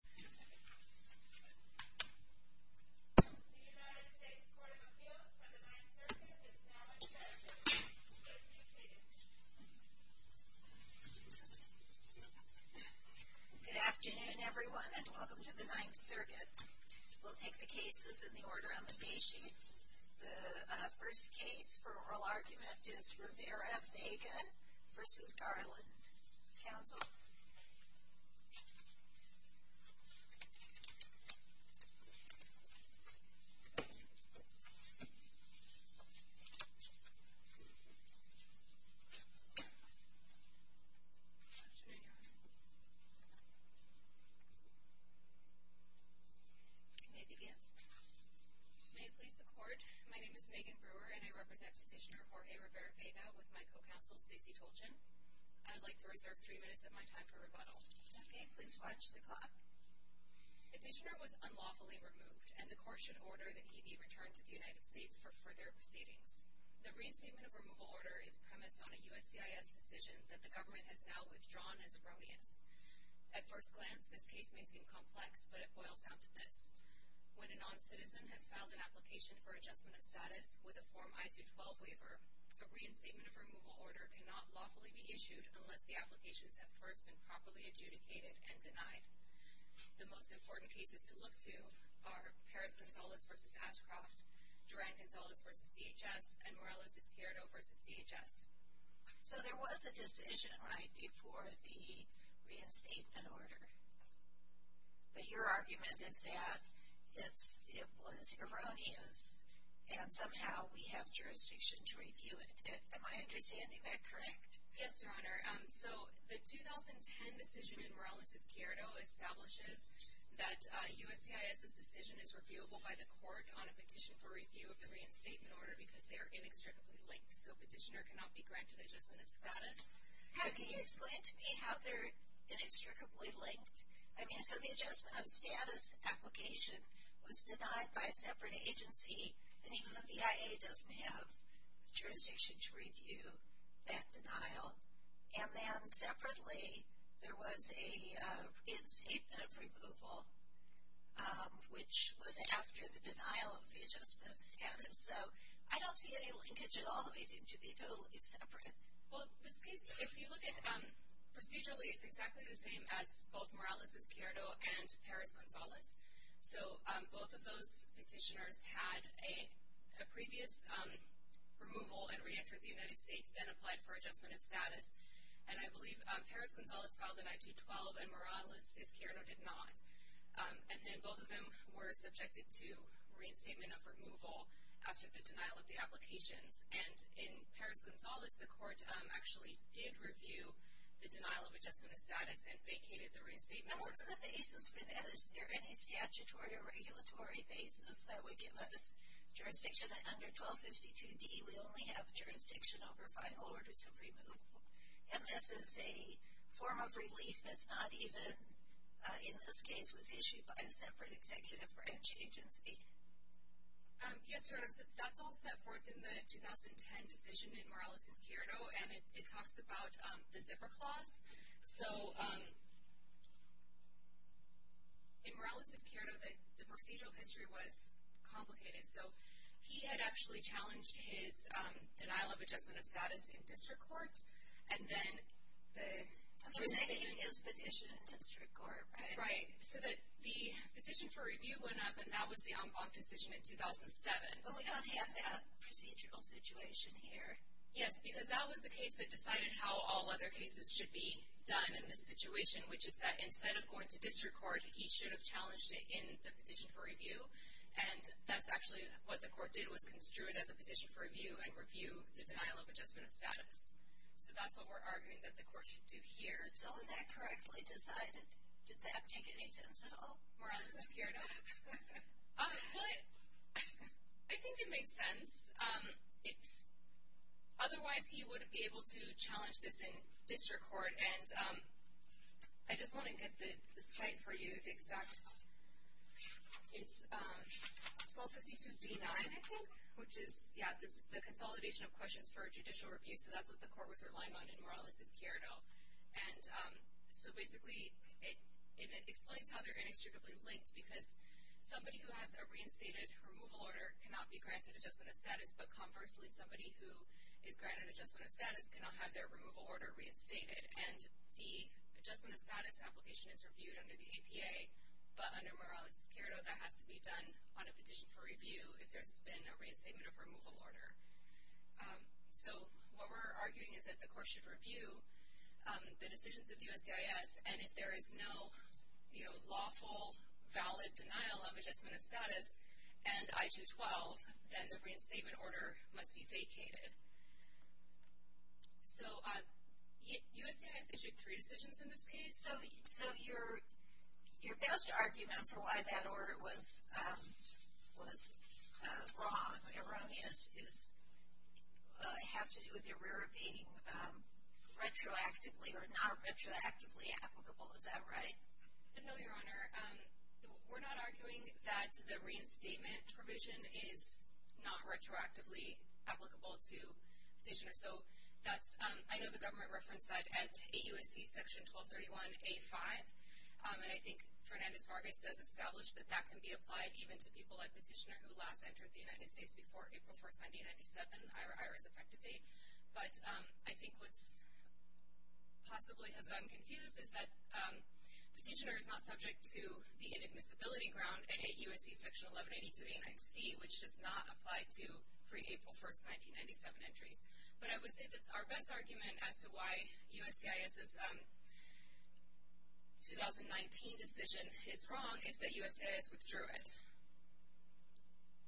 The United States Court of Appeals for the Ninth Circuit is now in session. Please be seated. Good afternoon everyone and welcome to the Ninth Circuit. We'll take the cases in the order on the day sheet. The first case for oral argument is Rivera Vega v. Garland. Counsel? May I begin? May it please the Court, my name is Megan Brewer and I represent Petitioner Jorge Rivera Vega with my co-counsel Stacy Tolchin. I'd like to reserve three minutes of my time for rebuttal. Okay, please watch the clock. Petitioner was unlawfully removed and the Court should order that he be returned to the United States for further proceedings. The reinstatement of removal order is premised on a USCIS decision that the government has now withdrawn as erroneous. At first glance this case may seem complex, but it boils down to this. When a non-citizen has filed an application for adjustment of status with a Form I-212 waiver, a reinstatement of removal order cannot lawfully be issued unless the applications have first been properly adjudicated and denied. The most important cases to look to are Perez-Gonzalez v. Ashcroft, Duran-Gonzalez v. DHS, and Morales-Izquierdo v. DHS. So there was a decision right before the reinstatement order, but your argument is that it was erroneous and somehow we have jurisdiction to review it. Am I understanding that correct? Yes, Your Honor. So the 2010 decision in Morales-Izquierdo establishes that USCIS's decision is reviewable by the Court on a petition for review of the reinstatement order because they are inextricably linked, so a petitioner cannot be granted adjustment of status. So can you explain to me how they're inextricably linked? I mean, so the adjustment of status application was denied by a separate agency, and even the BIA doesn't have jurisdiction to review that denial. And then separately there was a reinstatement of removal, which was after the denial of the adjustment of status. So I don't see any linkage at all. They seem to be totally separate. Well, this case, if you look at it procedurally, it's exactly the same as both Morales-Izquierdo and Perez-Gonzalez. So both of those petitioners had a previous removal and reentered the United States, then applied for adjustment of status. And I believe Perez-Gonzalez filed in 1912 and Morales-Izquierdo did not. And then both of them were subjected to reinstatement of removal after the denial of the applications. And in Perez-Gonzalez, the Court actually did review the denial of adjustment of status and vacated the reinstatement order. And what's the basis for that? Is there any statutory or regulatory basis that would give us jurisdiction? Under 1252d, we only have jurisdiction over final orders of removal. And this is a form of relief that's not even, in this case, was issued by a separate executive branch agency. Yes, that's all set forth in the 2010 decision in Morales-Izquierdo, and it talks about the zipper clause. So in Morales-Izquierdo, the procedural history was complicated. So he had actually challenged his denial of adjustment of status in district court, and then the – He was making his petition in district court, right? Right. So that the petition for review went up, and that was the en banc decision in 2007. But we don't have that procedural situation here. Yes, because that was the case that decided how all other cases should be done in this situation, which is that instead of going to district court, he should have challenged it in the petition for review. And that's actually what the court did was construe it as a petition for review and review the denial of adjustment of status. So that's what we're arguing that the court should do here. So was that correctly decided? Did that make any sense at all? Morales-Izquierdo? What? I think it makes sense. Otherwise, he would be able to challenge this in district court. I just want to get the site for you, the exact – it's 1252 D-9, I think, which is the consolidation of questions for judicial review. So that's what the court was relying on in Morales-Izquierdo. And so basically, it explains how they're inextricably linked, because somebody who has a reinstated removal order cannot be granted adjustment of status, but conversely, somebody who is granted adjustment of status cannot have their removal order reinstated. And the adjustment of status application is reviewed under the APA, but under Morales-Izquierdo, that has to be done on a petition for review if there's been a reinstatement of removal order. So what we're arguing is that the court should review the decisions of the USCIS, and if there is no lawful, valid denial of adjustment of status and I-212, then the reinstatement order must be vacated. So USCIS issued three decisions in this case. So your best argument for why that order was wrong, has to do with it being retroactively or not retroactively applicable. Is that right? No, Your Honor. We're not arguing that the reinstatement provision is not retroactively applicable to petitioners. So I know the government referenced that at AUSC Section 1231A-5, and I think Fernandez-Vargas does establish that that can be applied even to people like petitioner who last entered the United States before April 1, 1997, IRA's effective date. But I think what possibly has gotten confused is that petitioner is not subject to the inadmissibility ground in AUSC Section 1182A-9C, which does not apply to pre-April 1, 1997 entries. But I would say that our best argument as to why USCIS's 2019 decision is wrong is that USCIS withdrew it.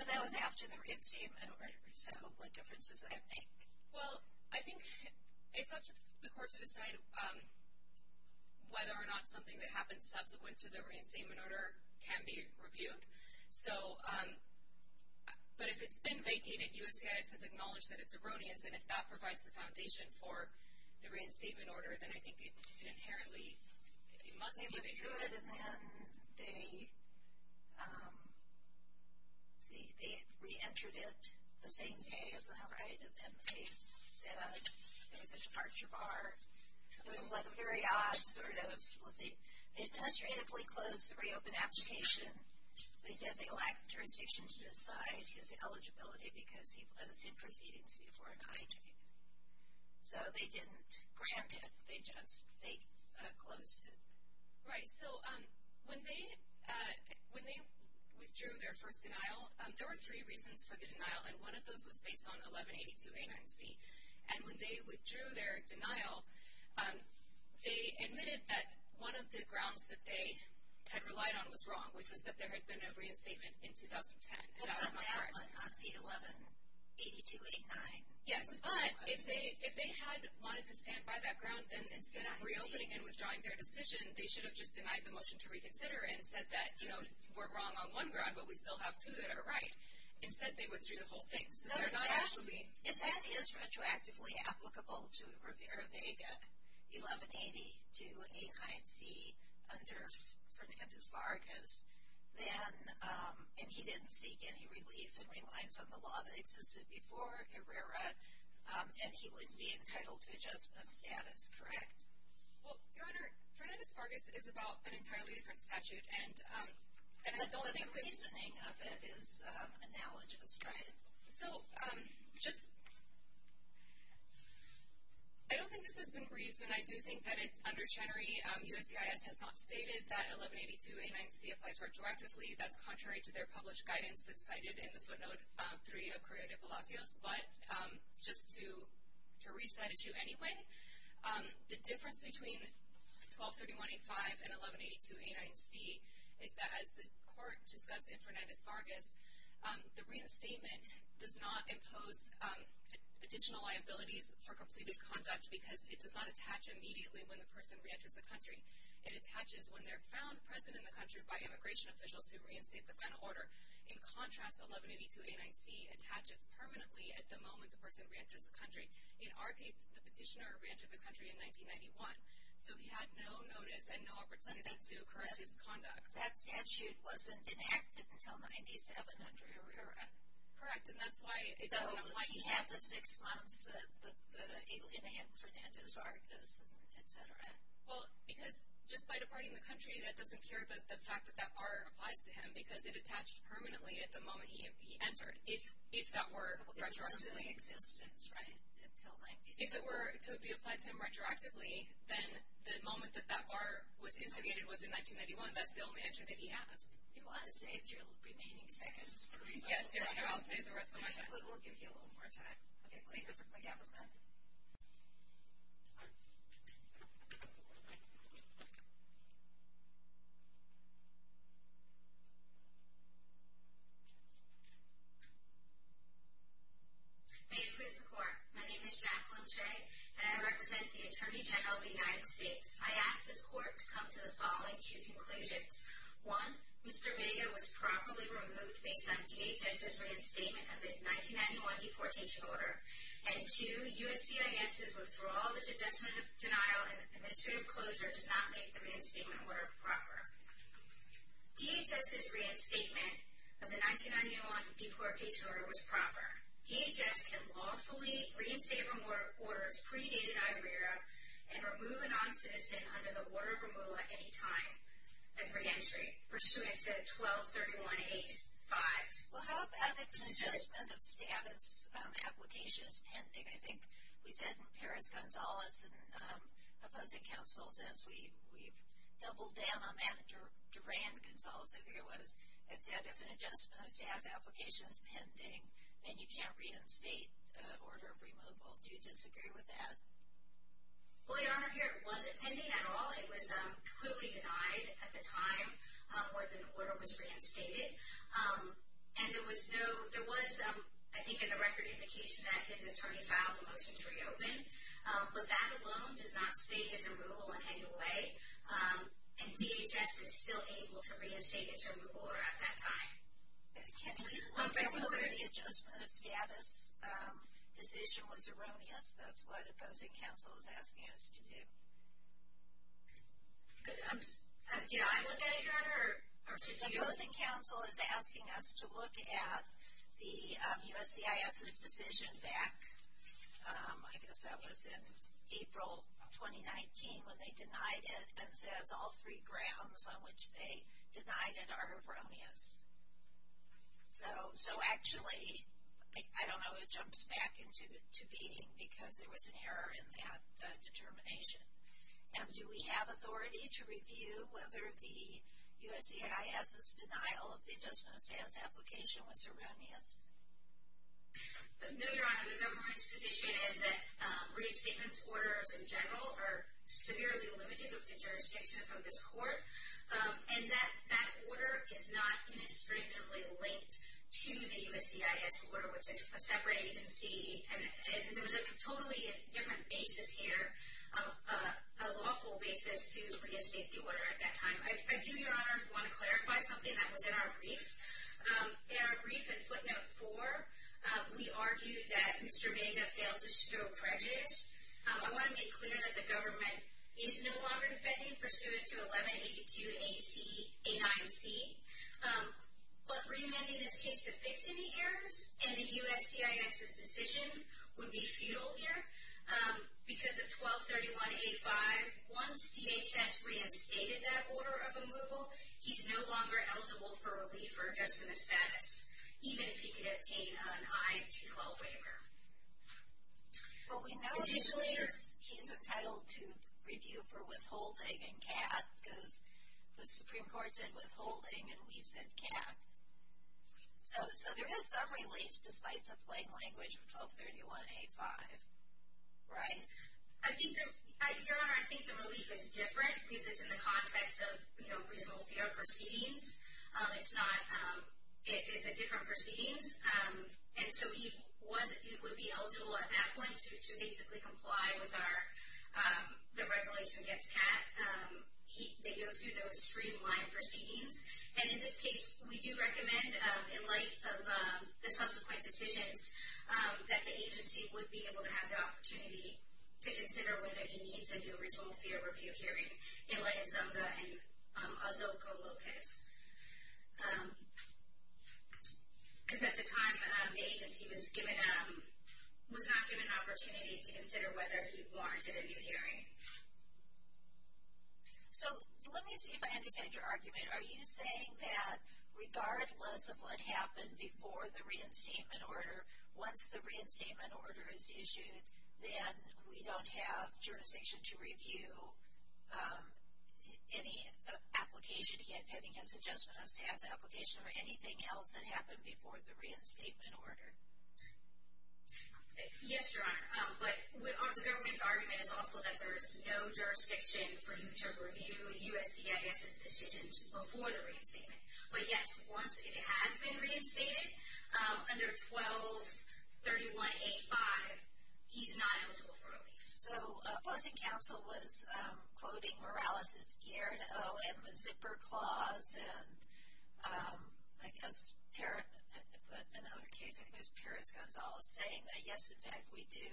But that was after the reinstatement order. So what difference does that make? Well, I think it's up to the court to decide whether or not something that happens subsequent to the reinstatement order can be reviewed. But if it's been vacated, USCIS has acknowledged that it's erroneous, and if that provides the foundation for the reinstatement order, then I think it inherently must be reviewed. They withdrew it, and then they re-entered it the same day, is that right? And they said there was a departure bar. It was like a very odd sort of, let's see, they administratively closed the reopened application. They said they lacked jurisdiction to decide his eligibility because he was in proceedings before an IJ. So they didn't grant it. They just closed it. Right. So when they withdrew their first denial, there were three reasons for the denial, and one of those was based on 1182A9C. And when they withdrew their denial, they admitted that one of the grounds that they had relied on was wrong, which was that there had been a reinstatement in 2010. And that was not correct. On the 1182A9? Yes. But if they had wanted to stand by that ground, then instead of reopening and withdrawing their decision, they should have just denied the motion to reconsider and said that, you know, we're wrong on one ground, but we still have two that are right. Instead, they withdrew the whole thing. So they're not actually. No, if that is retroactively applicable to Rivera-Vega, 1182A9C, under Sergio Vargas, and he didn't seek any relief and reliance on the law that existed before Rivera, and he wouldn't be entitled to adjustment of status, correct? Well, Your Honor, Fernandez-Vargas is about an entirely different statute. And I don't think the reasoning of it is analogous. Right. So just, I don't think this has been briefed, and I do think that under Chenery, USCIS has not stated that 1182A9C applies retroactively. That's contrary to their published guidance that's cited in the footnote 3 of Correa de Palacios. But just to reach that issue anyway, the difference between 1231A5 and 1182A9C is that, as the Court discussed in Fernandez-Vargas, the reinstatement does not impose additional liabilities for completed conduct because it does not attach immediately when the person reenters the country. It attaches when they're found present in the country by immigration officials who reinstate the final order. In contrast, 1182A9C attaches permanently at the moment the person reenters the country. In our case, the petitioner reentered the country in 1991. So he had no notice and no opportunity to correct his conduct. And that statute wasn't enacted until 9700. Correct, and that's why it doesn't apply. But he had the six months in Fernandez-Vargas, et cetera. Well, because just by departing the country, that doesn't cure the fact that that bar applies to him because it attached permanently at the moment he entered, if that were retroactively. If it was in existence, right, until 9700. If it were to be applied to him retroactively, then the moment that that bar was instigated was in 1991. That's the only answer that he has. You want to save your remaining seconds? Yes, Your Honor, I'll save the rest of my time. And we will give you a little more time. Okay, please return to the gavels, ma'am. May it please the Court, my name is Jacqueline Che and I represent the Attorney General of the United States. I ask this Court to come to the following two conclusions. One, Mr. Vega was properly removed based on DHS's reinstatement of his 1991 deportation order. And two, USCIS's withdrawal of its adjustment of denial and administrative closure does not make the reinstatement order proper. DHS's reinstatement of the 1991 deportation order was proper. DHS can lawfully reinstate remorse pre-dated IBRERA and remove a non-citizen under the order of removal at any time. And for entry pursuant to 1231-85. Well, how about if an adjustment of status application is pending? I think we said in Perez-Gonzalez and opposing counsels as we doubled down on that, Durand-Gonzalez, I think it was, it said if an adjustment of status application is pending, then you can't reinstate order of removal. Do you disagree with that? Well, Your Honor, here it wasn't pending at all. It was clearly denied at the time where the order was reinstated. And there was no, there was, I think in the record, indication that his attorney filed a motion to reopen. But that alone does not state his removal in any way. And DHS is still able to reinstate its removal order at that time. Can you look at whether the adjustment of status decision was erroneous? That's what opposing counsel is asking us to do. Did I look at it, Your Honor, or did you? Opposing counsel is asking us to look at the USCIS's decision back, I guess that was in April 2019, when they denied it and says all three grounds on which they denied it are erroneous. So actually, I don't know, it jumps back into beating because there was an error in that determination. And do we have authority to review whether the USCIS's denial of the adjustment of status application was erroneous? No, Your Honor. The government's position is that reinstatement orders in general are severely limited with the jurisdiction of this court. And that order is not inextricably linked to the USCIS order, which is a separate agency. And there was a totally different basis here, a lawful basis to reinstate the order at that time. I do, Your Honor, want to clarify something that was in our brief. In our brief in footnote four, we argued that Mr. Vega failed to show prejudice. I want to make clear that the government is no longer defending pursuant to 1182ACA9C. But remanding this case to fix any errors in the USCIS's decision would be futile here because of 1231A5. Once DHS reinstated that order of removal, he's no longer eligible for relief or adjustment of status, even if he could obtain an I-212 waiver. But we know he's entitled to review for withholding and CAT because the Supreme Court said withholding and we've said CAT. So there is some relief despite the plain language of 1231A5, right? Your Honor, I think the relief is different because it's in the context of reasonable fear proceedings. It's a different proceedings. And so he would be eligible at that point to basically comply with the regulation against CAT. They go through those streamlined proceedings. And in this case, we do recommend, in light of the subsequent decisions, that the agency would be able to have the opportunity to consider whether he needs a new reasonable fear review hearing, in light of Zunga and Ozuco Lopez. Because at the time, the agency was not given an opportunity to consider whether he warranted a new hearing. So, let me see if I understand your argument. Are you saying that regardless of what happened before the reinstatement order, once the reinstatement order is issued, then we don't have jurisdiction to review any application, getting his adjustment of status application or anything else that happened before the reinstatement order? Yes, Your Honor. But the government's argument is also that there is no jurisdiction for you to review USDAS's decisions before the reinstatement. But yes, once it has been reinstated, under 1231A5, he's not eligible for relief. So, Blessing Council was quoting Morales' Sierra to O.M. zipper clause, and I guess another case, I think it was Perez-Gonzalez, saying that yes, in fact, we do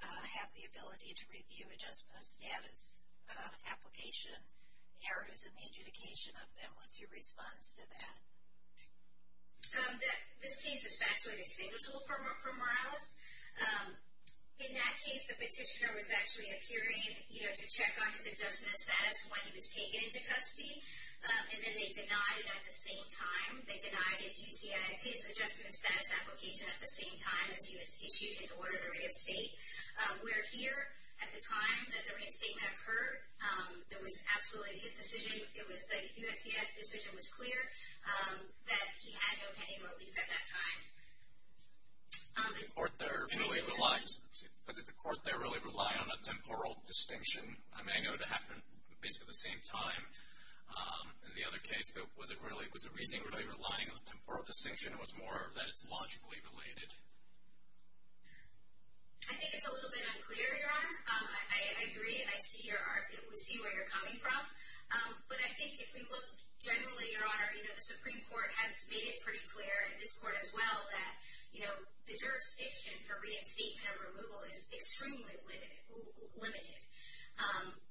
have the ability to review adjustment of status application errors in the adjudication of them. What's your response to that? This case is factually distinguishable from Morales. In that case, the petitioner was actually appearing to check on his adjustment of status when he was taken into custody, and then they denied it at the same time. They denied his adjustment of status application at the same time as he was issued his order to reinstate. Where here, at the time that the reinstatement occurred, there was absolutely his decision, it was USDAS's decision was clear that he had no pending relief at that time. Did the court there really rely on a temporal distinction? I mean, I know it happened basically at the same time in the other case, but was the reasoning really relying on a temporal distinction, or was it more that it's logically related? I think it's a little bit unclear, Your Honor. I agree, and I see where you're coming from. But I think if we look generally, Your Honor, the Supreme Court has made it pretty clear, and this court as well, that the jurisdiction for reinstatement or removal is extremely limited.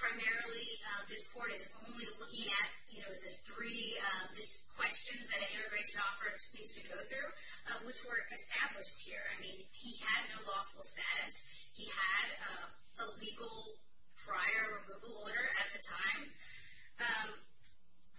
Primarily, this court is only looking at the three questions that an immigration officer needs to go through, which were established here. He had no lawful status. He had a legal prior removal order at the time,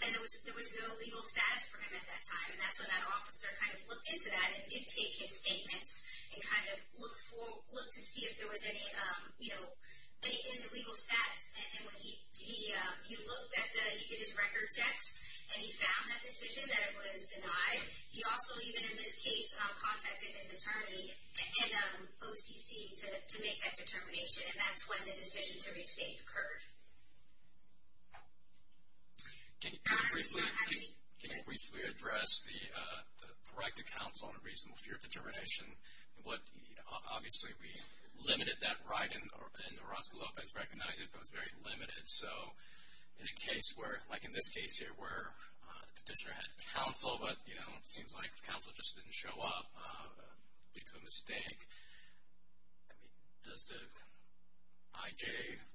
and there was no legal status for him at that time. And that's when that officer kind of looked into that and did take his statements and kind of looked to see if there was anything in the legal status. And when he looked, he did his record checks, and he found that decision that it was denied. He also, even in this case, contacted his attorney and OCC to make that determination, and that's when the decision to restate occurred. Your Honor, did you not have any? Can you briefly address the right to counsel and reasonable fear of determination? Obviously, we limited that right, and Orozco Lopez recognized it, but it was very limited. So in a case where, like in this case here, where the petitioner had counsel, but, you know, it seems like counsel just didn't show up due to a mistake, does the IJ,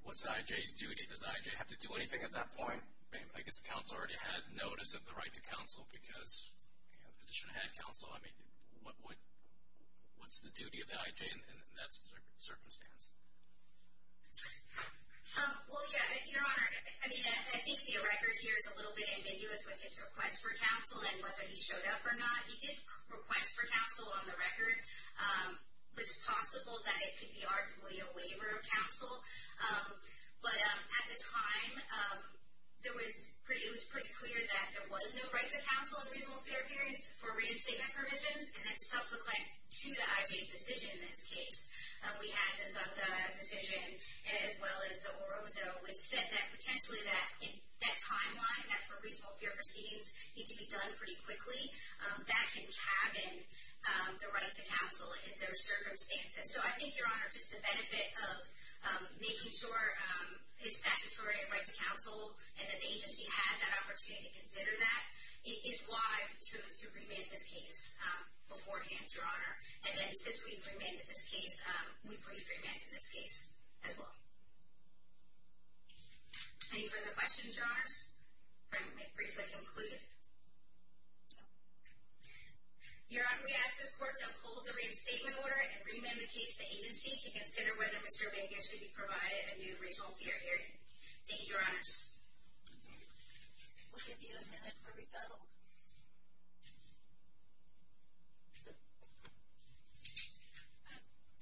what's the IJ's duty? Does the IJ have to do anything at that point? I guess counsel already had notice of the right to counsel because the petitioner had counsel. I mean, what's the duty of the IJ in that circumstance? Well, yeah. Your Honor, I mean, I think the record here is a little bit ambiguous with his request for counsel and whether he showed up or not. He did request for counsel on the record. It's possible that it could be arguably a waiver of counsel. But at the time, it was pretty clear that there was no right to counsel and reasonable fear of appearance for reinstatement permissions, and that's subsequent to the IJ's decision in this case. We had this decision, as well as the Orozco, which said that potentially that timeline, that for reasonable fear proceedings need to be done pretty quickly, that can cabin the right to counsel in those circumstances. So I think, Your Honor, just the benefit of making sure it's statutory, a right to counsel, and that the agency had that opportunity to consider that is why we chose to remand this case beforehand, Your Honor. And then since we've remanded this case, we've re-remanded this case, as well. Any further questions, Your Honors? All right. We've briefly concluded. Your Honor, we ask this Court to uphold the reinstatement order and remand the case to the agency to consider whether Mr. Omega should be provided a new reasonable fear hearing. Thank you, Your Honors. We'll give you a minute for rebuttal.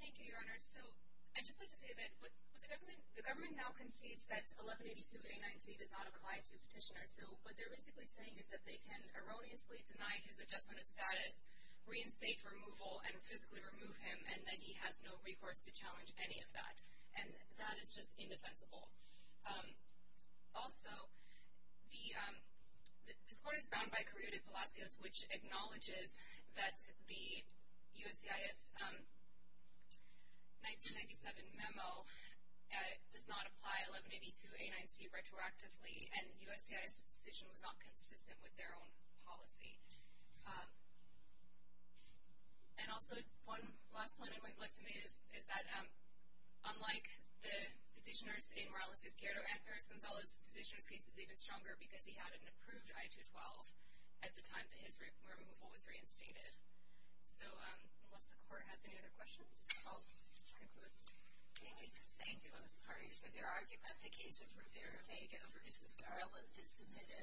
Thank you, Your Honors. So I'd just like to say that the government now concedes that 1182A9C does not apply to petitioners. So what they're basically saying is that they can erroneously deny his adjustment of status, reinstate removal, and physically remove him, and that he has no recourse to challenge any of that. And that is just indefensible. Also, this Court is bound by Correo de Palacios, which acknowledges that the USCIS 1997 memo does not apply 1182A9C retroactively, and USCIS' decision was not consistent with their own policy. And also, one last point I would like to make is that, unlike the petitioners in Morales-Escuero and Perez-Gonzalez, the petitioner's case is even stronger because he had an approved I-212 at the time that his removal was reinstated. So unless the Court has any other questions, this is all to conclude. Thank you. I thank both parties for their argument. The case of Rivera-Vega versus Garland is submitted.